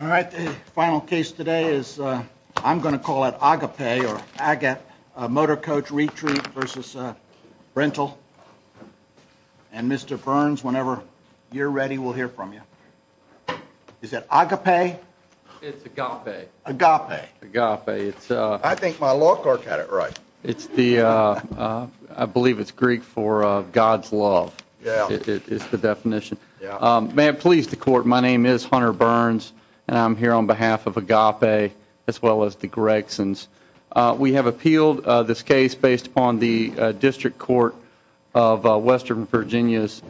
All right, the final case today is I'm gonna call it Agape or Agate Motorcoach Retreat versus Brintle and Mr. Burns, whenever you're ready, we'll hear from you. Is that Agape? Agape. Agape. I think my law clerk had it right. It's the, I believe it's Greek for God's love. It's the definition. May I please the court? My name is Hunter Burns, and I'm here on behalf of Agape as well as the Gregsons. We have appealed this case based upon the District Court of Western Virginia's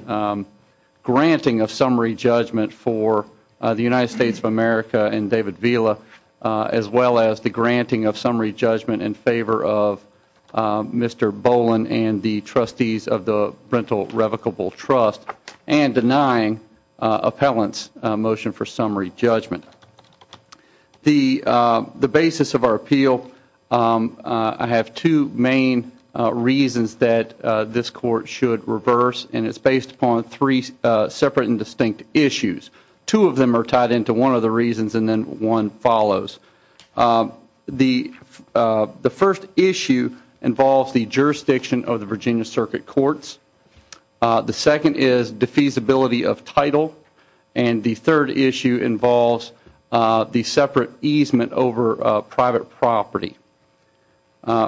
granting of summary judgment for the United States of America and David Vila as well as the granting of summary judgment in favor of Mr. Boland and the trustees of the Brintle Revocable Trust and denying appellants motion for summary judgment. The the basis of our appeal, I have two main reasons that this court should reverse and it's based upon three separate and distinct issues. Two of them are tied into one of the reasons and then one follows. The first issue involves the jurisdiction of the Virginia Circuit Courts. The second is defeasibility of title and the third issue involves the separate easement over private property.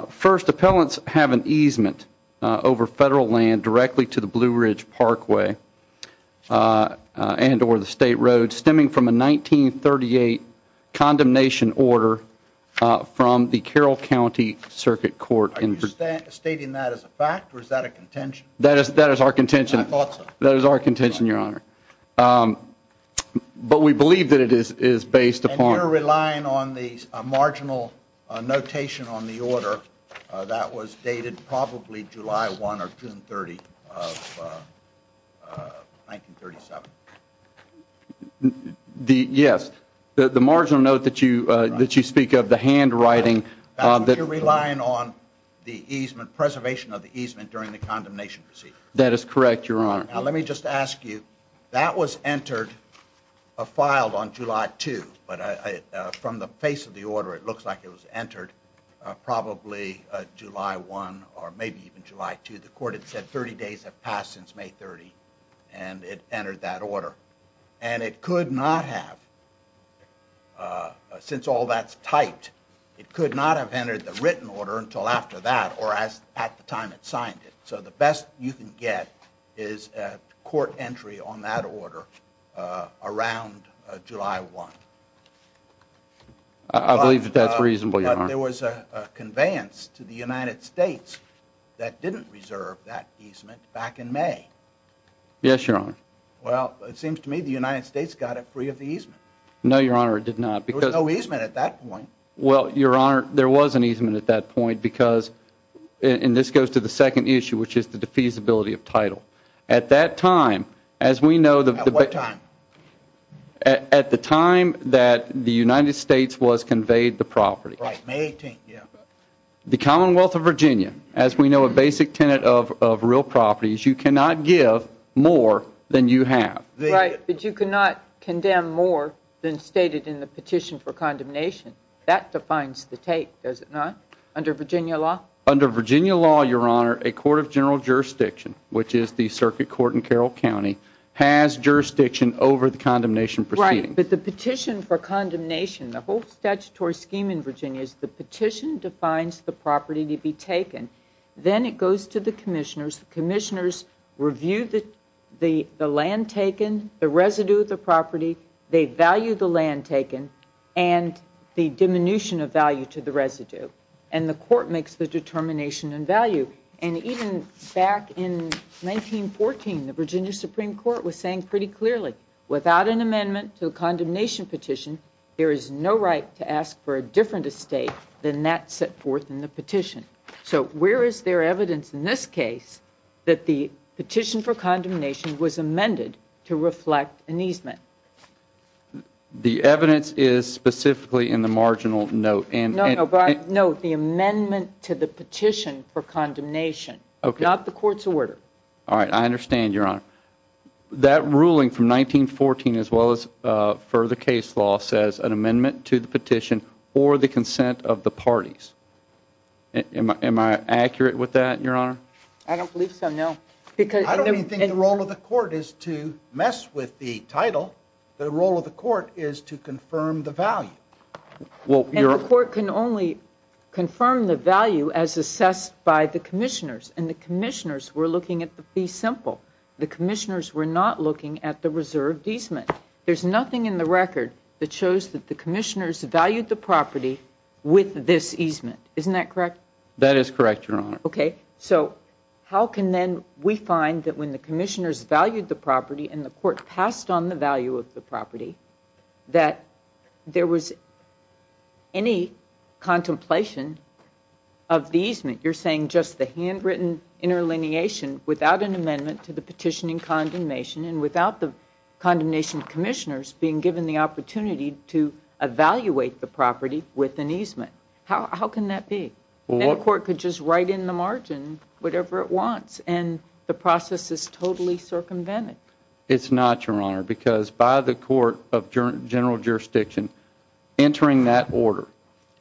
First, appellants have an easement over federal land directly to the Blue Ridge Parkway and or the State Road stemming from a 1938 condemnation order from the Carroll County Circuit Court. Are you stating that as a fact or is that a contention? That is that is our contention. That is our contention, your honor. But we believe that it is is based upon... And you're relying on the marginal notation on the order that was dated probably July 1 or June 30 of 1937. Yes, the marginal note that you that you speak of, the handwriting... You're relying on the easement preservation of the easement during the condemnation receipt. That is correct, your honor. Now, let me just ask you that was entered filed on July 2, but from the face of the order, it looks like it was entered probably July 1 or maybe even July 2. The court had said 30 days have passed since May 30 and it entered that order and it could not have, since all that's typed, it could not have entered the written order until after that or as at the time it signed it. So the best you can get is court entry on that order around July 1. I believe that that's reasonable, your honor. There was a conveyance to the United States that didn't reserve that easement back in May. Yes, your honor. Well, it seems to me the United States got it free of the easement. No, your honor, it did not because... There was no easement at that point. Well, your honor, there was an easement at that point because and this goes to the second issue, which is the defeasibility of title. At that time, as we know the... At what time? At the time that the United States was conveyed the property. Right, May 18, yeah. The Commonwealth of Virginia, as we know, a basic tenet of real properties, you cannot give more than you have. Right, but you cannot condemn more than stated in the petition for condemnation. That defines the take, does it not, under Virginia law? Under Virginia law, your honor, a court of general jurisdiction, which is the circuit court in Carroll County, has jurisdiction over the condemnation proceeding. Right, but the petition for condemnation, the whole statutory scheme in Virginia, is the petition that defines the property to be taken. Then it goes to the commissioners. The commissioners review the land taken, the residue of the property, they value the land taken, and the diminution of value to the residue, and the court makes the determination and value. And even back in 1914, the Virginia Supreme Court was saying pretty clearly, without an amendment to the condemnation petition, there is no right to ask for a different estate than that set forth in the petition. So where is there evidence in this case that the petition for condemnation was amended to reflect an easement? The evidence is specifically in the marginal note. No, no, no, the amendment to the petition for condemnation. Okay. Not the court's order. All right, I understand, your honor. That ruling from 1914, as well as for the case law, says an amendment to the petition or the consent of the parties. Am I accurate with that, your honor? I don't believe so, no. I don't even think the role of the court is to mess with the title. The role of the court is to confirm the value. And the court can only be simple. The commissioners were not looking at the reserved easement. There's nothing in the record that shows that the commissioners valued the property with this easement. Isn't that correct? That is correct, your honor. Okay, so how can then we find that when the commissioners valued the property and the court passed on the value of the property, that there was any contemplation of the easement? You're saying just the handwritten interlineation without an amendment to the petition in condemnation and without the condemnation commissioners being given the opportunity to evaluate the property with an easement. How can that be? Well, the court could just write in the margin whatever it wants and the process is totally circumvented. It's not, your honor, because by the court of general jurisdiction entering that order,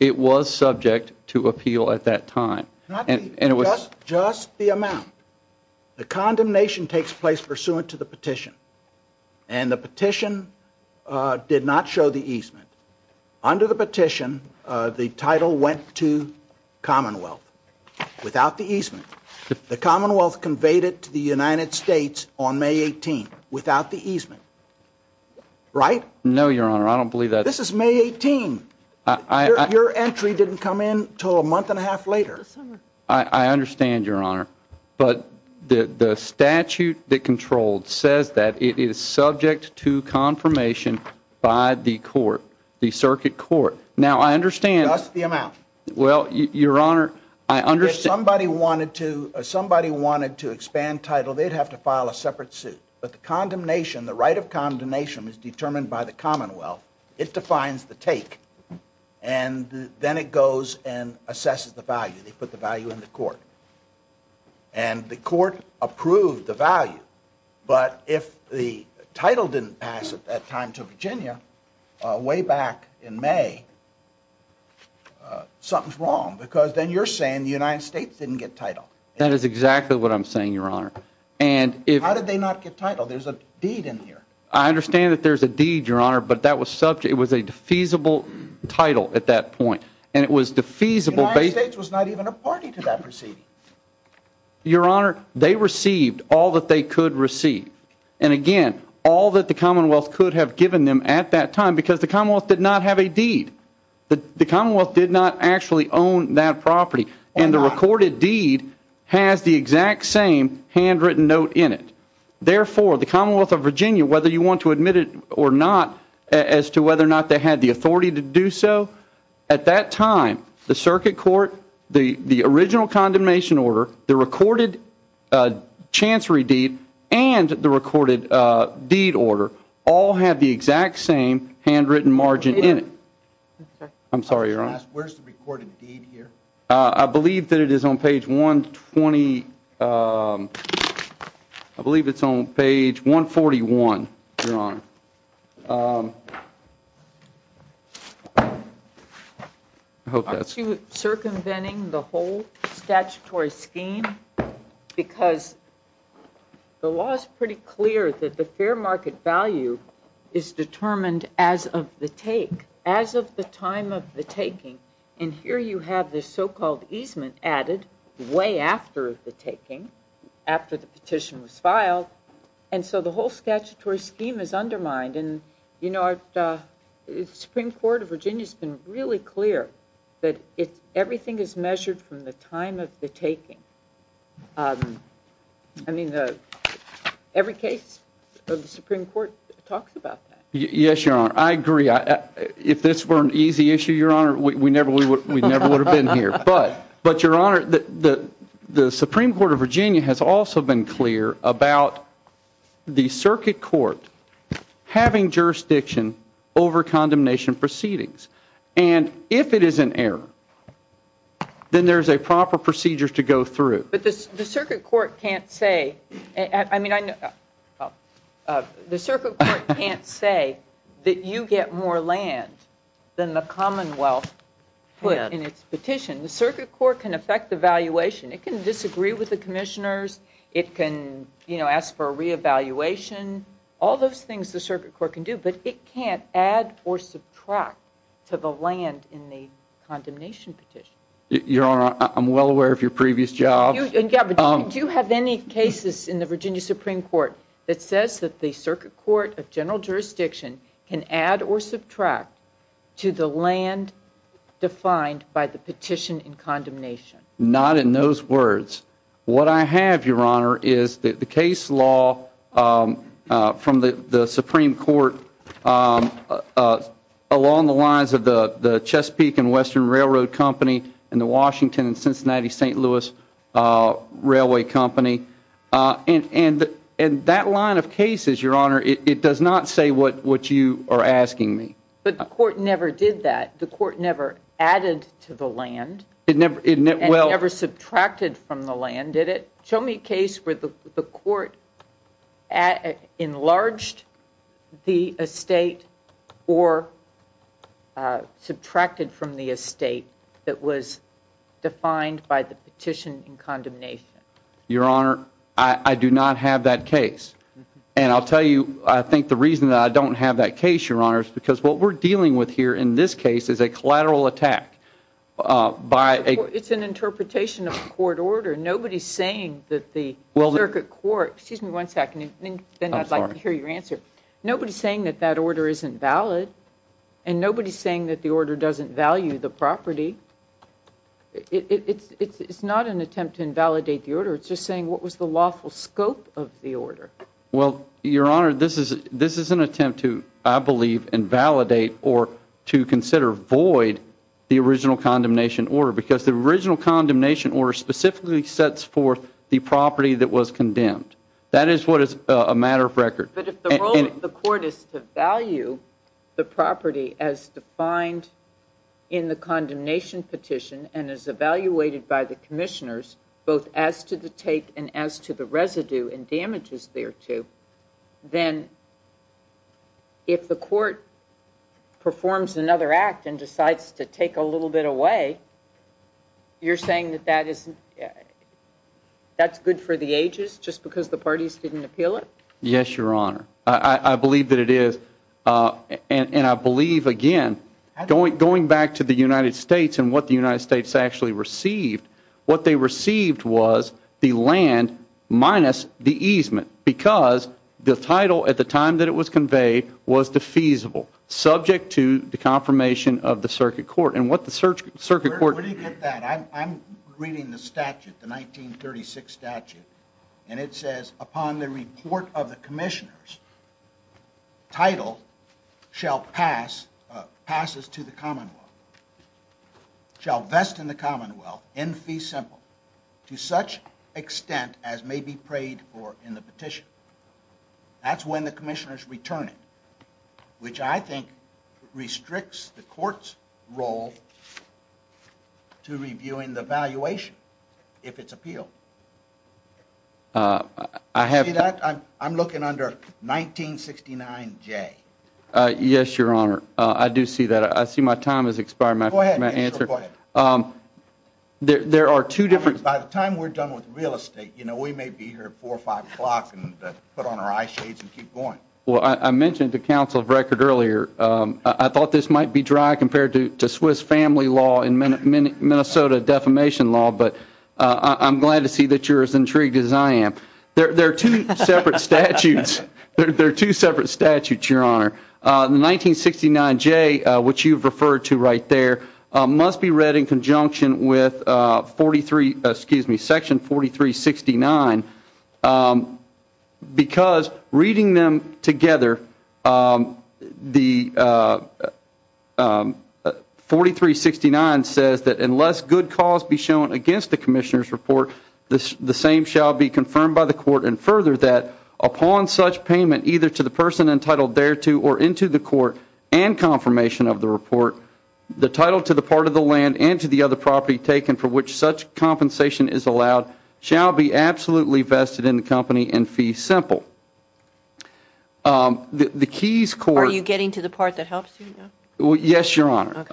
it was subject to appeal at that time and it was just the amount. The condemnation takes place pursuant to the petition and the petition did not show the easement. Under the petition, the title went to Commonwealth without the easement. The Commonwealth conveyed it to the United States on May 18 without the easement. Right? No, your honor. I don't believe that. This is May 18. Your entry didn't come in until a month and a half later. I understand, your honor, but the statute that controlled says that it is subject to confirmation by the court, the circuit court. Now, I understand. That's the amount. Well, your honor, I understand. If somebody wanted to expand title, they'd have to file a separate suit. But the condemnation, the right of condemnation, was determined by the Commonwealth. It defines the take and then it goes and assesses the value. They put the value in the court and the court approved the value. But if the title didn't pass at that time to Virginia, way back in May, something's wrong because then you're saying the United States didn't get title. That is exactly what I'm saying, your honor. How did they not get title? There's a deed in here. I understand that there's a deed, your honor, but that was subject, it was a defeasible title at that point. And it was defeasible. The United States was not even a party to that proceeding. Your honor, they received all that they could receive. And again, all that the Commonwealth could have given them at that time because the Commonwealth did not have a deed. The Commonwealth did not actually own that property. And the recorded deed has the exact same handwritten note in it. Therefore, the Commonwealth of Virginia, whether you want to admit it or not as to whether or not they had the authority to do so, at that time, the circuit court, the original condemnation order, the recorded chancery deed, and the recorded deed order, all have the exact same handwritten margin in it. I'm sorry, your honor. Where's the recorded deed here? I believe that it is on page 120. I believe it's on page 141, your honor. I hope that's... Circumventing the whole statutory scheme because the law is pretty clear that the fair market value is determined as of the take, as of the time of the taking. And here you have this so-called easement added way after the taking, after the petition was filed. And so the whole statutory scheme is undermined. And, you know, the Supreme Court of Virginia has been really clear that everything is measured from the time of the taking. I mean, every case of the Supreme Court talks about that. Yes, your honor. I agree. If this were an easy issue, your honor, we never would have been here. But, your honor, the Supreme Court of Virginia has also been clear about the circuit court having jurisdiction over condemnation proceedings. And if it is an error, then there's a proper procedure to go through. But the circuit court can't say, I mean, the circuit court can't say that you get more land than the commonwealth put in its petition. The circuit court can affect the valuation. It can disagree with the commissioners. It can, you know, ask for a re-evaluation. All those things the circuit court can do, but it can't add or subtract to the land in the condemnation petition. Your honor, I'm well aware of your previous jobs. Do you have any cases in the Virginia Supreme Court that says that the circuit court of general jurisdiction can add or subtract to the land defined by the petition in condemnation? Not in those words. What I have, your honor, is the case law from the the Supreme Court along the lines of the the Chesapeake and Western Railroad Company and the Washington and Cincinnati St. Louis Railway Company. And that line of cases, your honor, it does not say what you are asking me. But the court never did that. The court never added to the land. It never, well, never subtracted from the land, did it? Show me a case where the the court enlarged the estate or subtracted from the estate that was defined by the petition in condemnation. Your honor, I do not have that case. And I'll tell you, I think the reason that I don't have that case, your honor, is because what we're dealing with here in this case is a collateral attack by a... It's an interpretation of a court order. Nobody's saying that the circuit court, excuse me one second, then I'd like to hear your answer. Nobody's saying that that order isn't valid and nobody's saying that the order doesn't value the property. It's not an attempt to invalidate the order. It's just saying what was the lawful scope of the order? Well, your honor, this is an attempt to, I believe, invalidate or to consider void the original condemnation order. Because the original condemnation order specifically sets forth the property that was condemned. That is what is a matter of record. But if the role of the court is to value the property as defined in the condemnation petition and is evaluated by the commissioners, both as to the take and as to the residue and damages thereto, then if the court performs another act and decides to take a little bit away, you're saying that that isn't... That's good for the ages just because the parties didn't appeal it? Yes, your honor. I believe that it is. And I believe, again, going back to the United States and what the United States actually received, what they received was the land minus the easement. Because the title at the time that it was conveyed was defeasible, subject to the confirmation of the circuit court. And what the circuit court... Where do you get that? I'm reading the statute, the 1936 statute, and it says, upon the report of the commissioners, title shall pass, passes to the commonwealth, shall vest in the commonwealth in fee simple to such extent as may be prayed for in the petition. That's when the commissioners return it, which I think restricts the court's role to reviewing the valuation if it's appealed. I have... See that? I'm looking under 1969 J. Yes, your honor. I do see that. I see my time has expired. My answer... Go ahead. There are two different... By the time we're done with real estate, you know, we may be here at four or five o'clock and put on our eye shades and keep going. Well, I mentioned to counsel of record earlier, I thought this might be dry compared to Swiss family law and Minnesota defamation law, but I'm glad to see that you're as intrigued as I am. There are two separate statutes There are two separate statutes, your honor. The 1969 J, which you've referred to right there, must be read in conjunction with 43, excuse me, section 4369, because reading them together, the 4369 says that unless good cause be shown against the commissioner's report, the same shall be confirmed by the court and further that upon such payment either to the person entitled thereto or into the court and confirmation of the report, the title to the part of the land and to the other property taken for which such compensation is allowed shall be absolutely vested in the company and fee simple. The keys court... Are you getting to the part that helps you now? Yes, your honor.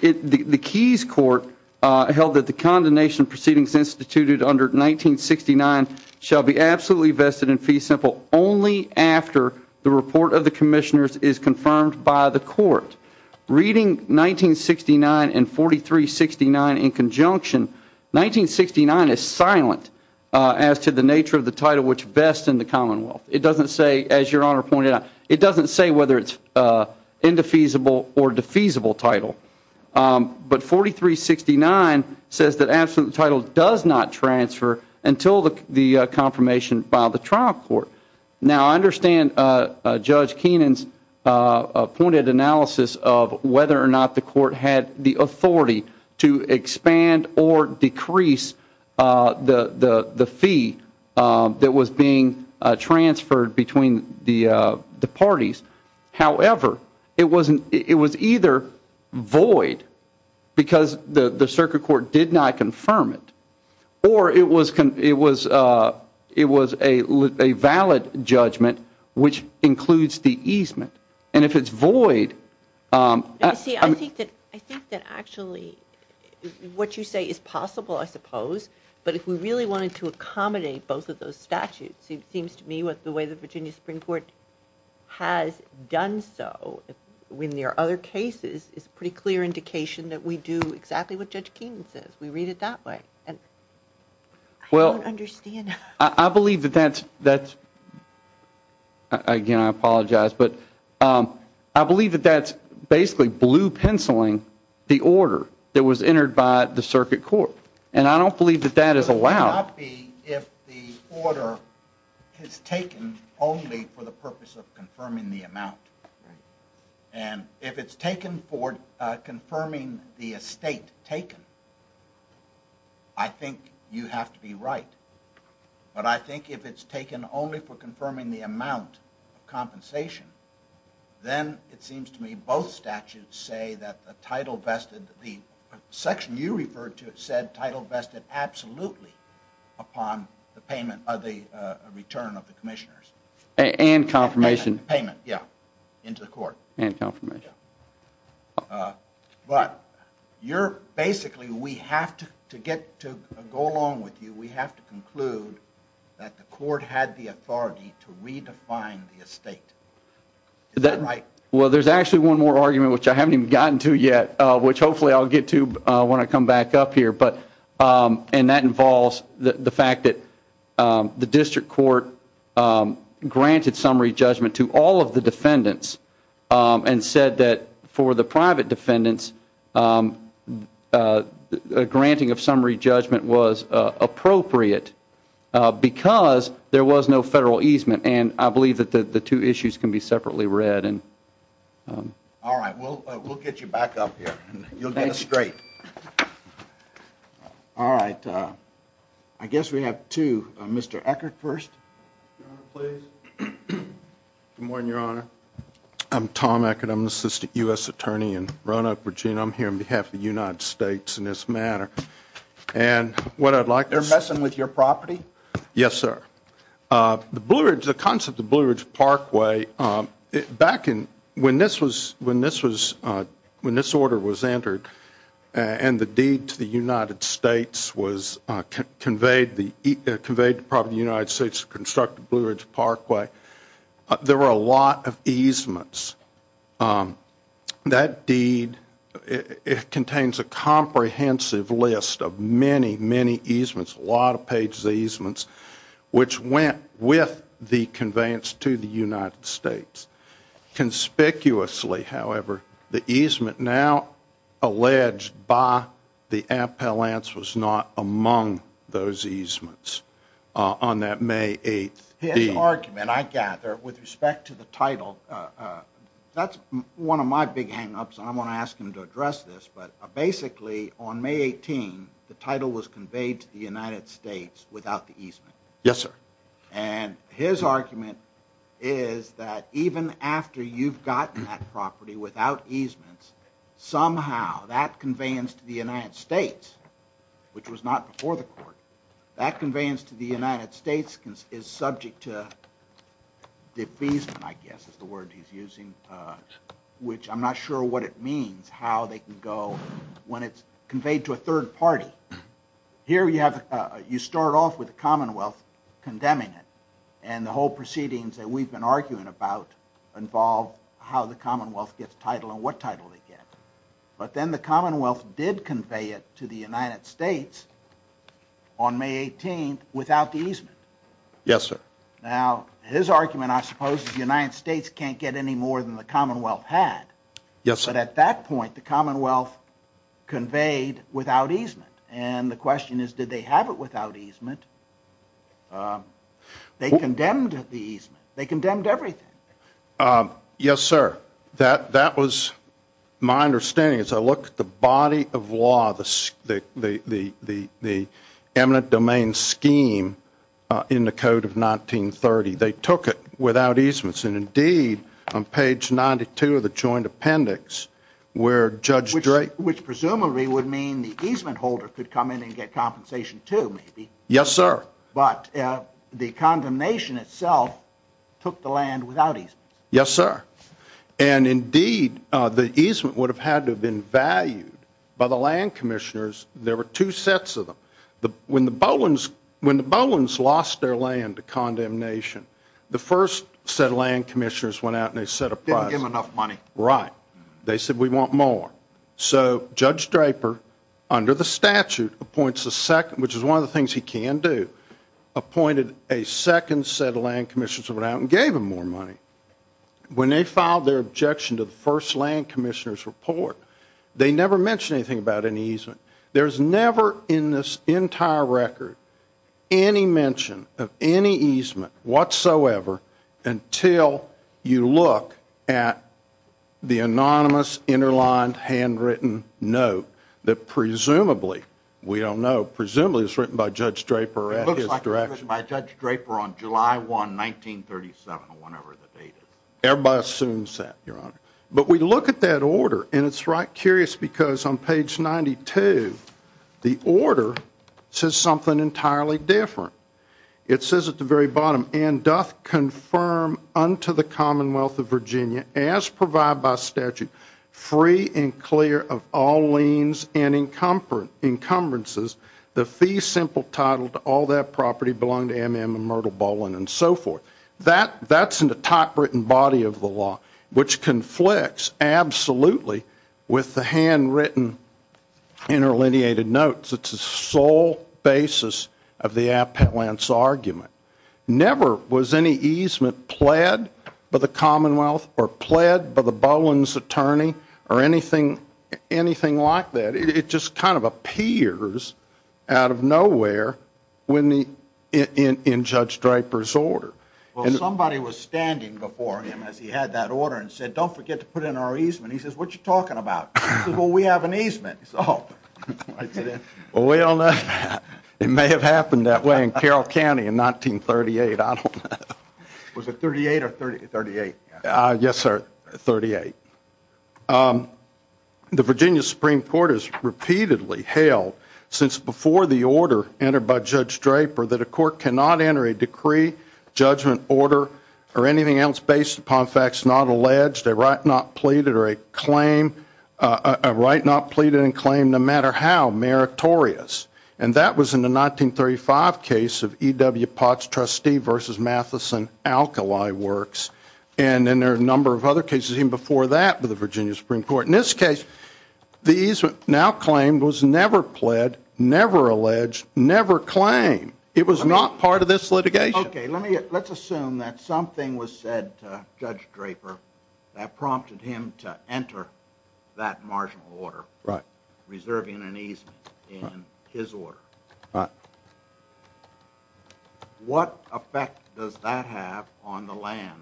The keys court held that the condemnation proceedings instituted under 1969 shall be absolutely vested in fee simple only after the report of the commissioners is confirmed by the court. Reading 1969 and 4369 in conjunction, 1969 is silent as to the nature of the title which vests in the commonwealth. It doesn't say, as your honor pointed out, it doesn't say whether it's indefeasible or defeasible title, but 4369 says that absolute title does not transfer until the confirmation by the trial court. Now, I understand Judge Keenan's pointed analysis of whether or not the court had the authority to expand or decrease the fee that was being transferred between the parties. However, it was either void because the circuit court did not confirm it or it was a valid judgment, which includes the easement. And if it's void... I think that actually what you say is possible, I suppose, but if we really wanted to accommodate both of those statutes, it seems to me what the way the Virginia Supreme Court has done so when there are other cases is a pretty clear indication that we do exactly what Judge Keenan says. We read it that way and I don't understand. I believe that that's again, I apologize, but I believe that that's basically blue penciling the order that was entered by the circuit court. And I don't believe that that is allowed. It would not be if the order is taken only for the purpose of confirming the amount. And if it's taken for confirming the estate taken, I think you have to be right. But I think if it's taken only for confirming the amount of compensation, then it seems to me both statutes say that the title vested, the section you referred to, it said title vested absolutely upon the payment of the return of the commissioners. And confirmation. Payment, yeah, into the court. And confirmation. But you're basically, we have to to get to go along with you, we have to conclude that the court had the authority to redefine the estate. Is that right? Well, there's actually one more argument, which I haven't even gotten to yet, which hopefully I'll get to when I come back up here, but and that involves the fact that the district court granted summary judgment to all of the defendants and said that for the private defendants a granting of summary judgment was appropriate because there was no federal easement and I believe that the two issues can be separately read and All right, we'll we'll get you back up here and you'll get it straight All right, I guess we have two, Mr. Eckert first Your honor, please Good morning, your honor I'm Tom Eckert. I'm an assistant U.S. attorney in Roanoke, Virginia. I'm here on behalf of the United States in this matter And what I'd like to- You're messing with your property? Yes, sir The Blue Ridge, the concept of Blue Ridge Parkway, back in when this was, when this was when this order was entered and the deed to the United States was Conveyed the- Conveyed the property of the United States to construct the Blue Ridge Parkway There were a lot of easements That deed It contains a comprehensive list of many many easements, a lot of pages of easements Which went with the conveyance to the United States Conspicuously, however, the easement now Alleged by the appellants was not among those easements On that May 8th- His argument, I gather, with respect to the title That's one of my big hang-ups and I want to ask him to address this But basically on May 18, the title was conveyed to the United States without the easement. Yes, sir And his argument Is that even after you've gotten that property without easements Somehow that conveyance to the United States Which was not before the court, that conveyance to the United States is subject to Defeasement, I guess is the word he's using Which I'm not sure what it means, how they can go when it's conveyed to a third party Here you have, you start off with the commonwealth condemning it and the whole proceedings that we've been arguing about Involve how the commonwealth gets title and what title they get But then the commonwealth did convey it to the United States On May 18th without the easement Yes, sir. Now his argument, I suppose, is the United States can't get any more than the commonwealth had Yes, but at that point the commonwealth Conveyed without easement and the question is did they have it without easement? They condemned the easement, they condemned everything Yes, sir that that was My understanding as I look at the body of law, the the eminent domain scheme In the code of 1930, they took it without easements and indeed on page 92 of the joint appendix Where Judge Drake, which presumably would mean the easement holder could come in and get compensation, too Yes, sir, but the condemnation itself Took the land without easements. Yes, sir And indeed, the easement would have had to have been valued by the land commissioners There were two sets of them. When the Bolins lost their land to condemnation The first set of land commissioners went out and they set a price, didn't give enough money, right? They said we want more. So Judge Draper Under the statute appoints a second, which is one of the things he can do Appointed a second set of land commissioners went out and gave him more money When they filed their objection to the first land commissioner's report, they never mentioned anything about any easement There's never in this entire record any mention of any easement whatsoever until you look at The anonymous, interlined, handwritten note that presumably We don't know. Presumably it's written by Judge Draper at his direction. It looks like it was written by Judge Draper on July 1, 1937 or whenever the date is. Everybody assumes that, your honor. But we look at that order and it's right curious because on page 92 the order says something entirely different It says at the very bottom, and doth confirm Unto the Commonwealth of Virginia as provided by statute free and clear of all liens and encumbrances The fee simple title to all that property belong to M.M. and Myrtle Bolin and so forth That that's in the typewritten body of the law which conflicts absolutely with the handwritten Interlineated notes. It's a sole basis of the Appellant's argument Never was any easement pled by the Commonwealth or pled by the Bolin's attorney or anything Anything like that. It just kind of appears out of nowhere when the In Judge Draper's order. Well somebody was standing before him as he had that order and said don't forget to put in our easement And he says what you're talking about? Well, we have an easement, so Well, we all know that. It may have happened that way in Carroll County in 1938. I don't know. Was it 38 or 38? Yes, sir, 38 The Virginia Supreme Court has repeatedly hailed since before the order entered by Judge Draper that a court cannot enter a decree Judgment order or anything else based upon facts not alleged a right not pleaded or a claim Right not pleaded and claimed no matter how meritorious and that was in the 1935 case of EW Potts trustee versus Matheson Alkali works and Then there are a number of other cases even before that with the Virginia Supreme Court in this case The easement now claimed was never pled never alleged never claimed. It was not part of this litigation Okay, let me let's assume that something was said to Judge Draper that prompted him to enter That marginal order right reserving an easement in his order, right? What effect does that have on the land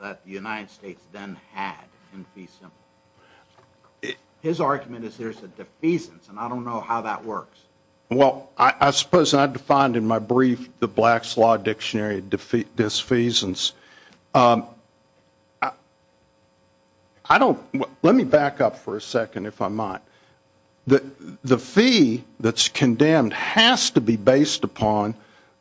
that the United States then had in fee simple His argument is there's a defeasance, and I don't know how that works Well, I suppose I defined in my brief the blacks law dictionary defeat disfeasance I Don't let me back up for a second if I might The the fee that's condemned has to be based upon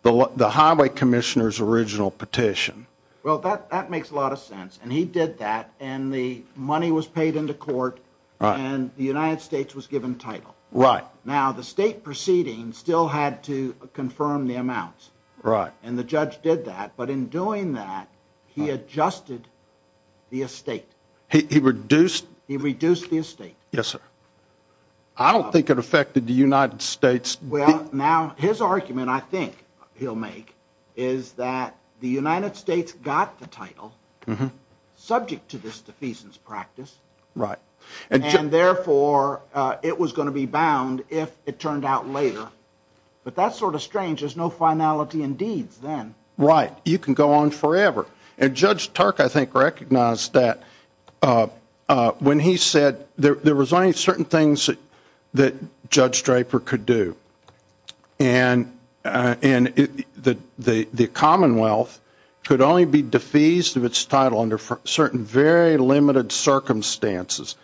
the the highway commissioners original petition Well that that makes a lot of sense and he did that and the money was paid into court All right, and the United States was given title right now the state proceeding still had to confirm the amounts Right and the judge did that but in doing that he adjusted The estate he reduced he reduced the estate. Yes, sir. I Don't think it affected the United States. Well now his argument I think he'll make is that the United States got the title Subject to this defeasance practice right and and therefore it was going to be bound if it turned out later But that's sort of strange. There's no finality in deeds then right you can go on forever and judge Turk. I think recognized that When he said there was only certain things that Judge Draper could do and And the the Commonwealth could only be defeased of its title under certain very limited Circumstances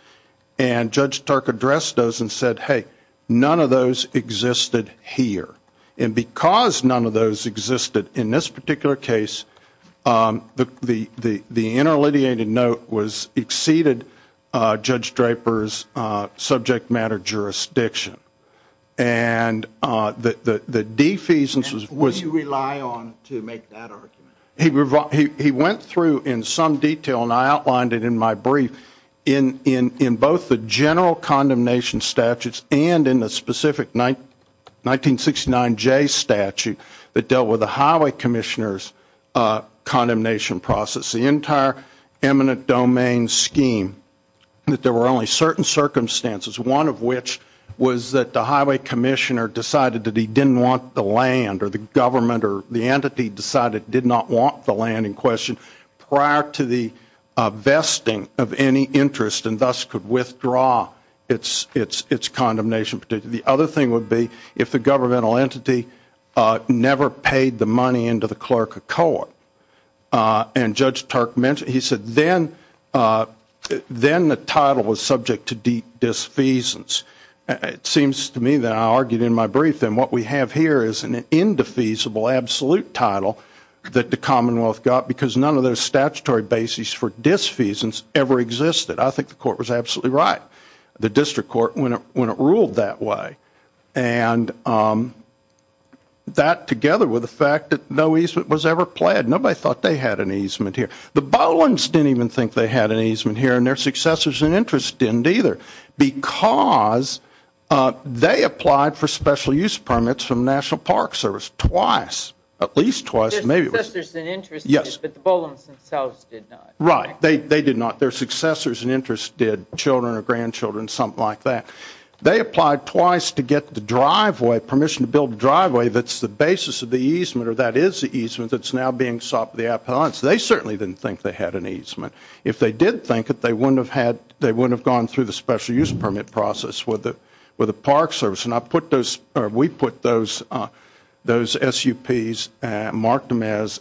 and Judge Turk addressed those and said hey none of those Existed here and because none of those existed in this particular case The the the the interleviated note was exceeded Judge Draper's subject matter jurisdiction and The the defeasance was what you rely on to make that argument He rebut he went through in some detail and I outlined it in my brief in In in both the general condemnation statutes and in the specific night 1969 J statute that dealt with the highway commissioners condemnation process the entire eminent domain scheme That there were only certain circumstances one of which was that the highway commissioner decided that he didn't want the land or the government or the entity decided did not want the land in question prior to the Vesting of any interest and thus could withdraw. It's it's it's condemnation particular The other thing would be if the governmental entity Never paid the money into the clerk of court and Judge Turk mentioned he said then Then the title was subject to deep Defeasance, it seems to me that I argued in my brief Then what we have here is an indefeasible absolute title that the Commonwealth got because none of those statutory Basis for disfeasance ever existed. I think the court was absolutely right the district court when it when it ruled that way and That together with the fact that no easement was ever pled nobody thought they had an easement here the Bowen's didn't even think they had an easement here and their successors and interest didn't either because They applied for special-use permits from National Park Service twice at least twice Right they they did not their successors and interested children or grandchildren something like that They applied twice to get the driveway permission to build a driveway That's the basis of the easement or that is the easement that's now being sought for the appellants They certainly didn't think they had an easement if they did think that they wouldn't have had They wouldn't have gone through the special-use permit process with it with the Park Service and I put those or we put those those SUPs marked them as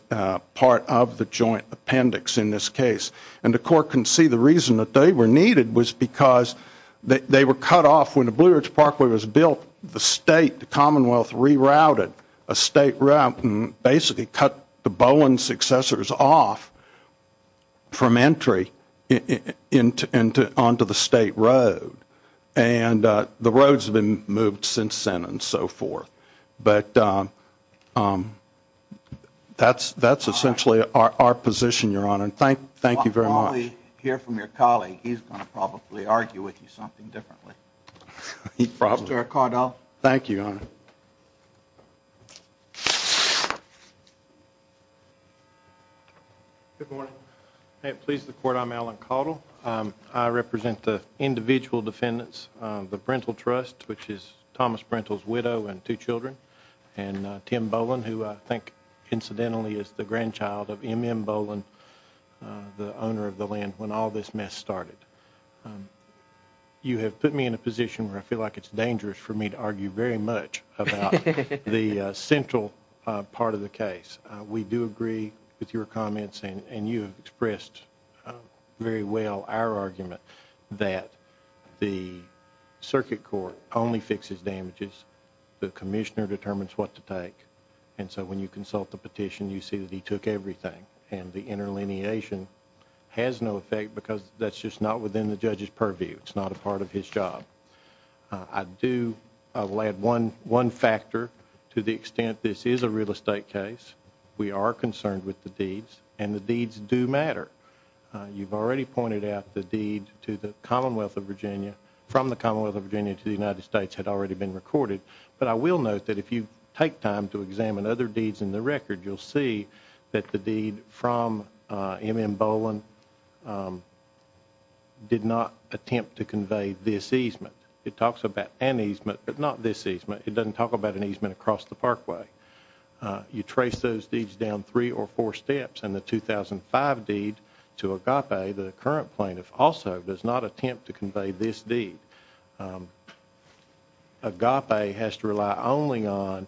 part of the joint appendix in this case and the court can see the reason that they were needed was because They were cut off when the Blue Ridge Parkway was built the state the Commonwealth rerouted a state ramp and basically cut the Bowen's successors off from entry into onto the state road and the roads have been moved since then and so forth, but That's that's essentially our position your honor and thank thank you very much here from your colleague He's gonna probably argue with you something differently He'd probably record. Oh, thank you on Good morning, hey, please the court. I'm Alan Caudill. I represent the individual defendants the parental trust which is Thomas rentals widow and two children and Tim Bowen who I think incidentally is the grandchild of mm Bowen The owner of the land when all this mess started You have put me in a position where I feel like it's dangerous for me to argue very much about the central Part of the case we do agree with your comments and and you expressed very well our argument that the Circuit Court only fixes damages the Commissioner determines what to take and so when you consult the petition you see that he took everything And the interlineation has no effect because that's just not within the judge's purview. It's not a part of his job. I Do I'll add one one factor to the extent this is a real estate case We are concerned with the deeds and the deeds do matter You've already pointed out the deed to the Commonwealth of Virginia From the Commonwealth of Virginia to the United States had already been recorded But I will note that if you take time to examine other deeds in the record You'll see that the deed from mm Bowen Did not attempt to convey this easement it talks about an easement, but not this easement It doesn't talk about an easement across the parkway you trace those deeds down three or four steps and the 2005 deed to a cop a the current plaintiff also does not attempt to convey this deed Agape has to rely only on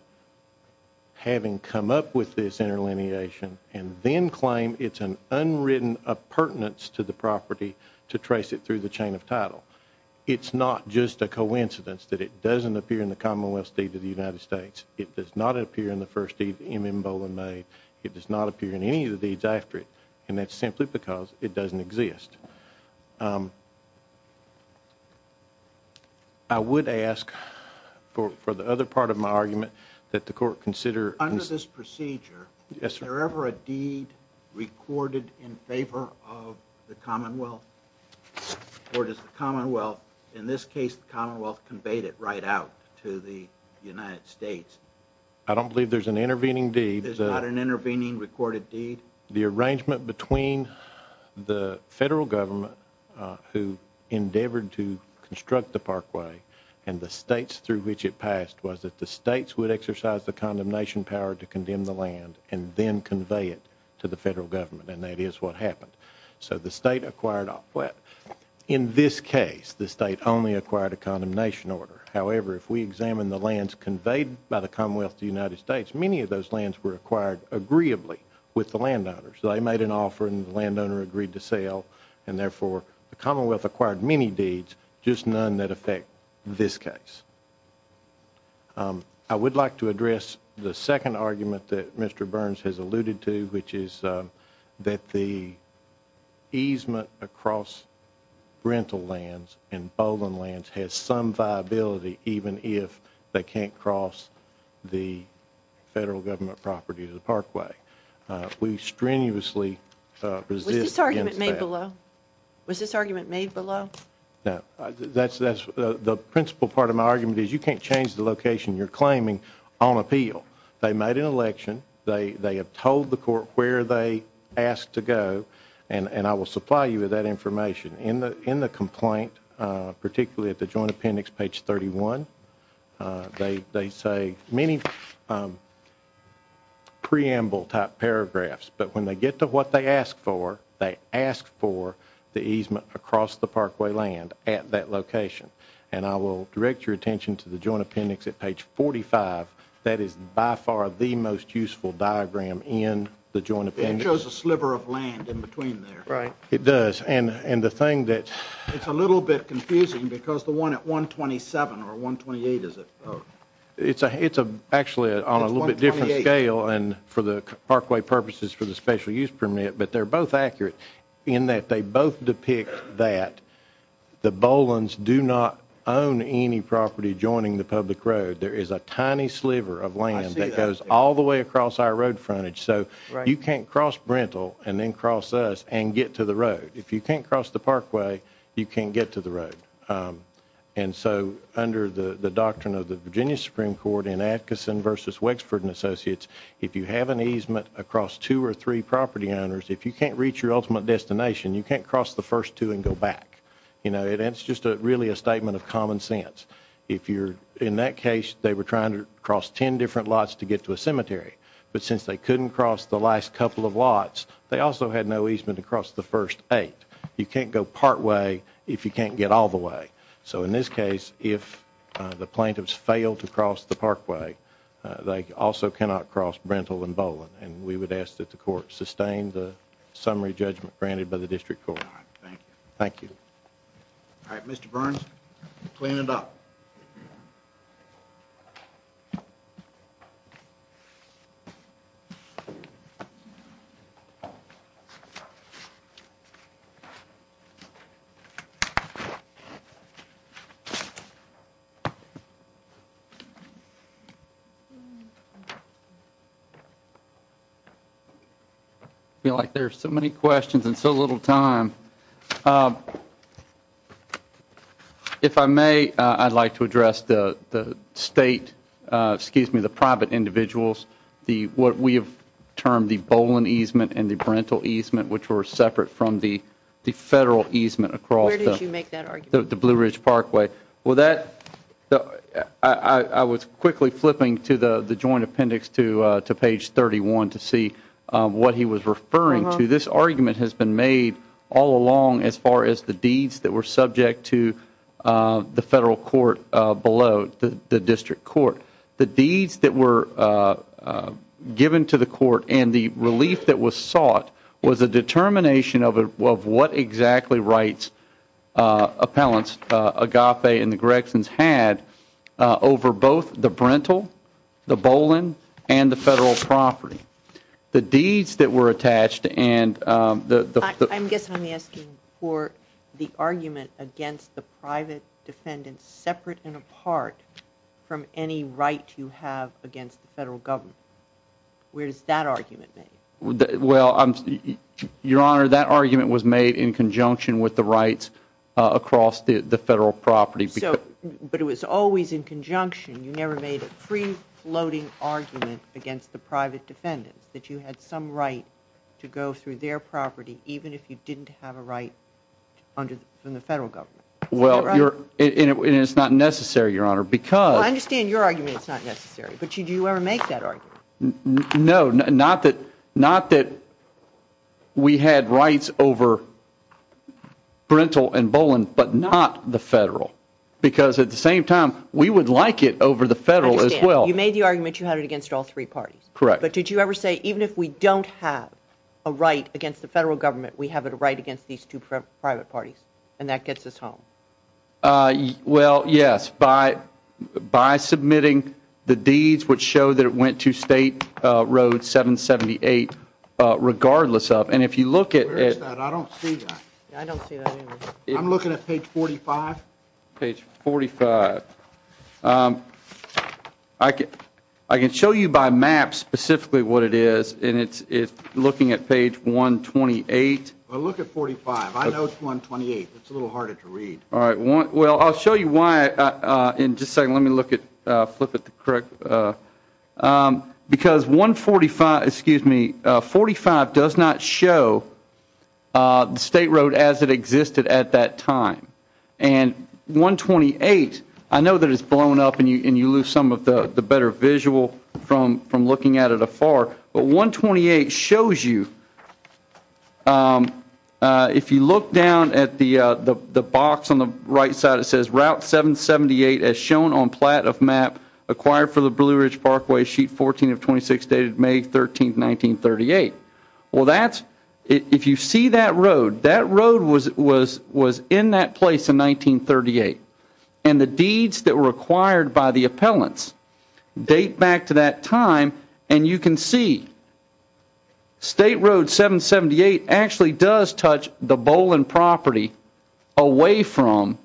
Having come up with this interlineation and then claim it's an unwritten Appurtenance to the property to trace it through the chain of title It's not just a coincidence that it doesn't appear in the Commonwealth State of the United States It does not appear in the first deed mm Bowen made It does not appear in any of the deeds after it and that's simply because it doesn't exist I Would ask For the other part of my argument that the court consider under this procedure. Yes, sir ever a deed recorded in favor of the Commonwealth Or does the Commonwealth in this case the Commonwealth conveyed it right out to the United States? I don't believe there's an intervening deed. There's not an intervening recorded deed the arrangement between the federal government Who endeavored to construct the parkway and the states through which it passed was that the states would exercise the Condemnation power to condemn the land and then convey it to the federal government and that is what happened So the state acquired off what in this case the state only acquired a condemnation order However, if we examine the lands conveyed by the Commonwealth the United States many of those lands were acquired Agreeably with the landowners So I made an offer and the landowner agreed to sell and therefore the Commonwealth acquired many deeds just none that affect this case I would like to address the second argument that mr. Burns has alluded to which is that the easement across rental lands and bowling lands has some viability even if they can't cross the Federal government property to the parkway We strenuously Resist argument made below was this argument made below now That's that's the principal part of my argument is you can't change the location you're claiming on appeal They made an election They they have told the court where they asked to go and and I will supply you with that information in the in the complaint particularly at the Joint Appendix page 31 They they say many Preamble type paragraphs But when they get to what they ask for they ask for the easement across the parkway land at that location And I will direct your attention to the Joint Appendix at page 45 That is by far the most useful diagram in the Joint Appendix Right it does and and the thing that it's a little bit confusing because the one at 127 or 128 is it? It's a it's a actually on a little bit different scale and for the parkway purposes for the special-use permit But they're both accurate in that they both depict that The Boland's do not own any property joining the public road There is a tiny sliver of land that goes all the way across our road frontage So you can't cross rental and then cross us and get to the road if you can't cross the parkway you can't get to the road and So under the the doctrine of the Virginia Supreme Court in Atkinson versus Wexford and Associates If you have an easement across two or three property owners, if you can't reach your ultimate destination You can't cross the first two and go back You know, it's just a really a statement of common sense If you're in that case, they were trying to cross ten different lots to get to a cemetery But since they couldn't cross the last couple of lots, they also had no easement across the first eight You can't go partway if you can't get all the way So in this case if the plaintiffs fail to cross the parkway they also cannot cross rental and Boland and we would ask that the court sustain the Summary judgment granted by the district court Thank you All right, mr. Burns Clean it up I Feel like there's so many questions and so little time If I may I'd like to address the the state Excuse me the private individuals the what we have termed the Boland easement and the parental easement which were separate from the Federal easement across the Blue Ridge Parkway, well that I Was quickly flipping to the the joint appendix to to page 31 to see What he was referring to this argument has been made all along as far as the deeds that were subject to the federal court below the district court the deeds that were Given to the court and the relief that was sought was a determination of it of what exactly rights appellants agape and the Gregson's had over both the parental the Boland and the federal property the deeds that were attached and The I'm guessing asking for the argument against the private defendants separate and apart From any right you have against the federal government Where's that argument? well Your honor that argument was made in conjunction with the rights Across the the federal property so but it was always in conjunction You never made a free floating argument against the private defendants that you had some right To go through their property even if you didn't have a right In the federal government well you're in it's not necessary your honor because I understand your argument It's not necessary, but you do you ever make that argument? No, not that not that We had rights over Parental and Boland, but not the federal because at the same time we would like it over the federal as well You made the argument you had it against all three parties correct But did you ever say even if we don't have a right against the federal government? We have it right against these two private parties and that gets us home well yes by By submitting the deeds which show that it went to State Road 778 Regardless of and if you look at it I'm looking at page 45 page 45 I Get I can show you by map specifically what it is, and it's it's looking at page 128 All right well, I'll show you why in just saying let me look at flip it the correct Because 145 excuse me 45 does not show the State Road as it existed at that time and 128 I know that it's blown up and you and you lose some of the better visual from from looking at it afar But 128 shows you If you look down at the the box on the right side It says route 778 as shown on plat of map acquired for the Blue Ridge Parkway sheet 14 of 26 dated May 13 1938 well, that's if you see that road that road was was was in that place in 1938 and the deeds that were acquired by the appellants Date back to that time and you can see State Road 778 actually does touch the Boland property Away from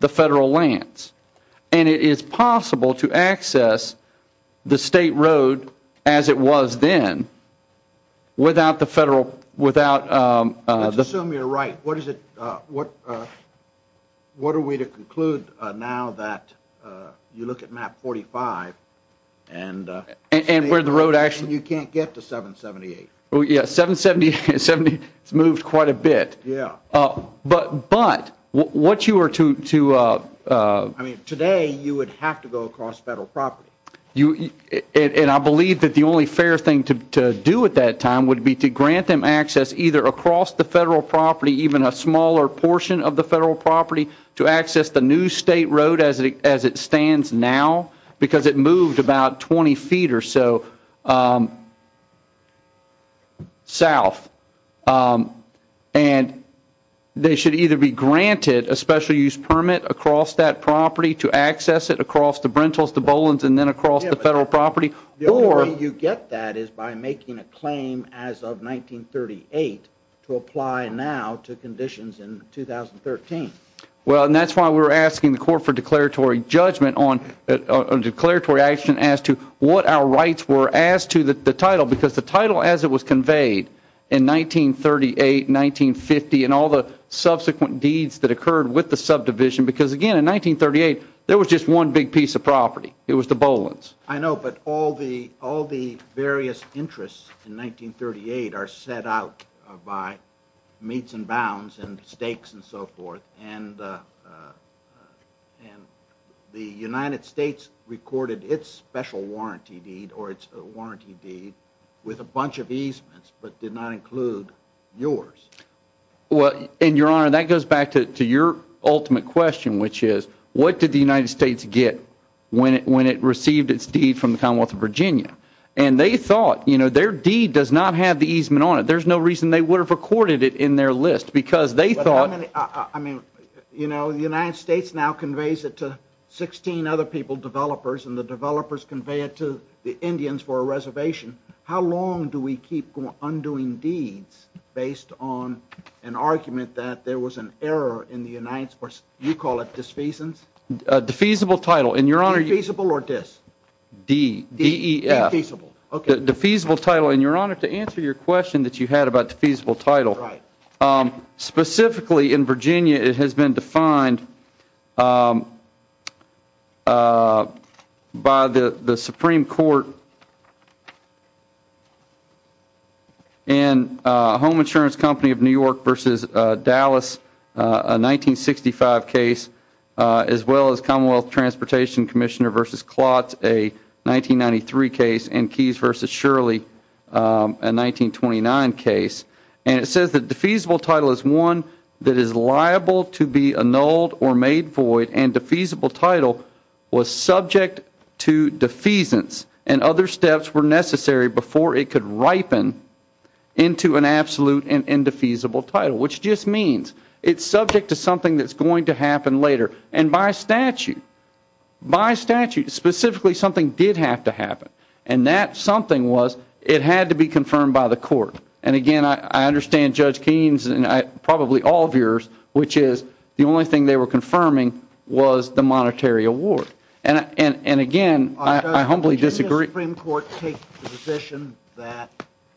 the federal lands, and it is possible to access The State Road as it was then without the federal without The assume you're right. What is it what? What are we to conclude now that? You look at map 45 and And where the road actually you can't get to 778. Oh, yeah, 770 70. It's moved quite a bit Yeah, oh, but but what you were to to Today you would have to go across federal property you And I believe that the only fair thing to do at that time would be to grant them access either across the federal Property even a smaller portion of the federal property to access the new State Road as it as it stands now Because it moved about 20 feet or so South and They should either be granted a special-use permit across that property to access it across the Brentals the Boland's and then across the federal property or you get that is by making a claim as of 1938 to apply now to conditions in 2013 well, and that's why we were asking the court for declaratory judgment on a Declaratory action as to what our rights were asked to the title because the title as it was conveyed in 1938 1950 and all the subsequent deeds that occurred with the subdivision because again in 1938 there was just one big piece of property it was the Boland's I know but all the all the Various interests in 1938 are set out by meets and bounds and stakes and so forth and And the United States recorded its special warranty deed or its warranty deed with a bunch of easements But did not include yours Well in your honor that goes back to your ultimate question Which is what did the United States get? When it when it received its deed from the Commonwealth of Virginia, and they thought you know their deed does not have the easement on it There's no reason they would have recorded it in their list because they thought I mean You know the United States now conveys it to 16 other people developers and the developers convey it to the Indians for a reservation How long do we keep undoing deeds based on an argument that there was an error in the United Sports? You call it this face and a defeasible title in your honor usable or this D Defeasible the defeasible title in your honor to answer your question that you had about the feasible title, right? Specifically in Virginia it has been defined By the the Supreme Court And Home insurance company of New York versus Dallas a 1965 case as well as Commonwealth Transportation Commissioner versus clots a 1993 case and keys versus Shirley a 1929 case and it says that the feasible title is one that is liable to be annulled or made void and defeasible title Was subject to defeasance and other steps were necessary before it could ripen Into an absolute and indefeasible title which just means it's subject to something that's going to happen later and by statute by statute Specifically something did have to happen and that something was it had to be confirmed by the court And again, I understand judge Keene's and I probably all of yours Which is the only thing they were confirming was the monetary award and and and again, I humbly disagree Supreme Court take the position that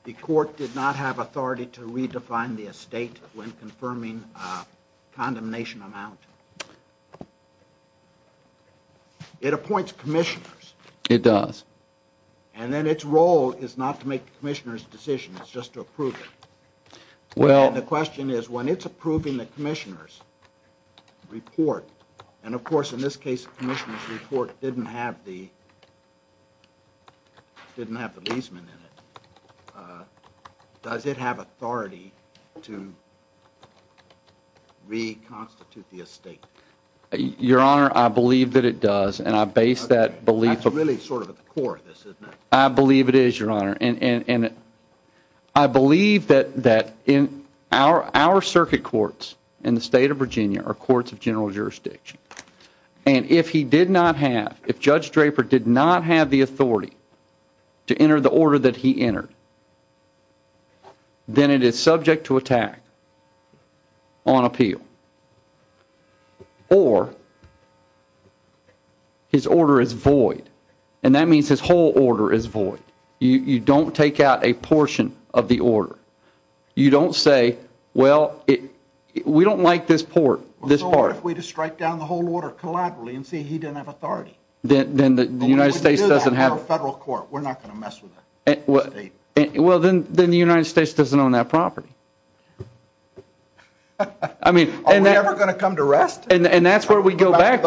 the court did not have authority to redefine the estate when confirming condemnation amount It appoints commissioners it does and then its role is not to make the commissioners decision it's just to approve it Well, the question is when it's approving the commissioners report and of course in this case commissioners report didn't have the Didn't have the leaseman in it Does it have authority to? We constitute the estate Your honor, I believe that it does and I base that belief. It's really sort of the core of this Isn't it? I believe it is your honor and in it. I believe that that in our our circuit courts in the state of Virginia or courts of general jurisdiction and If he did not have if judge Draper did not have the authority to enter the order that he entered Then it is subject to attack on appeal or His order is void and that means his whole order is void you you don't take out a portion of the order You don't say well We don't like this port this part if we just strike down the whole order collaterally and see he didn't have authority Then the United States doesn't have a federal court. We're not gonna mess with it. Well, then then the United States doesn't own that property. I Mean and they're gonna come to rest and and that's where we go back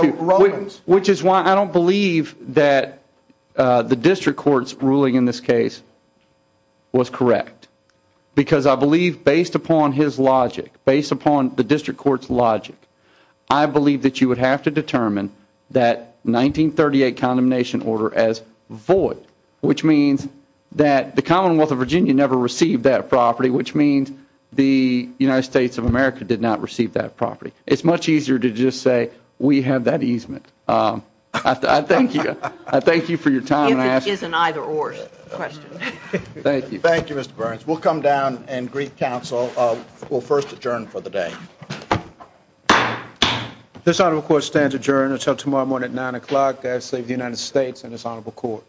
which is why I don't believe that the district courts ruling in this case Was correct Because I believe based upon his logic based upon the district courts logic I believe that you would have to determine that 1938 condemnation order as void which means that the Commonwealth of Virginia never received that property Which means the United States of America did not receive that property. It's much easier to just say we have that easement I thank you. I thank you for your time Is an either-or Thank you. Thank you. Mr. Burns. We'll come down and Greek Council. We'll first adjourn for the day This on of course stands adjourned until tomorrow morning at 9 o'clock guys save the United States and it's honorable court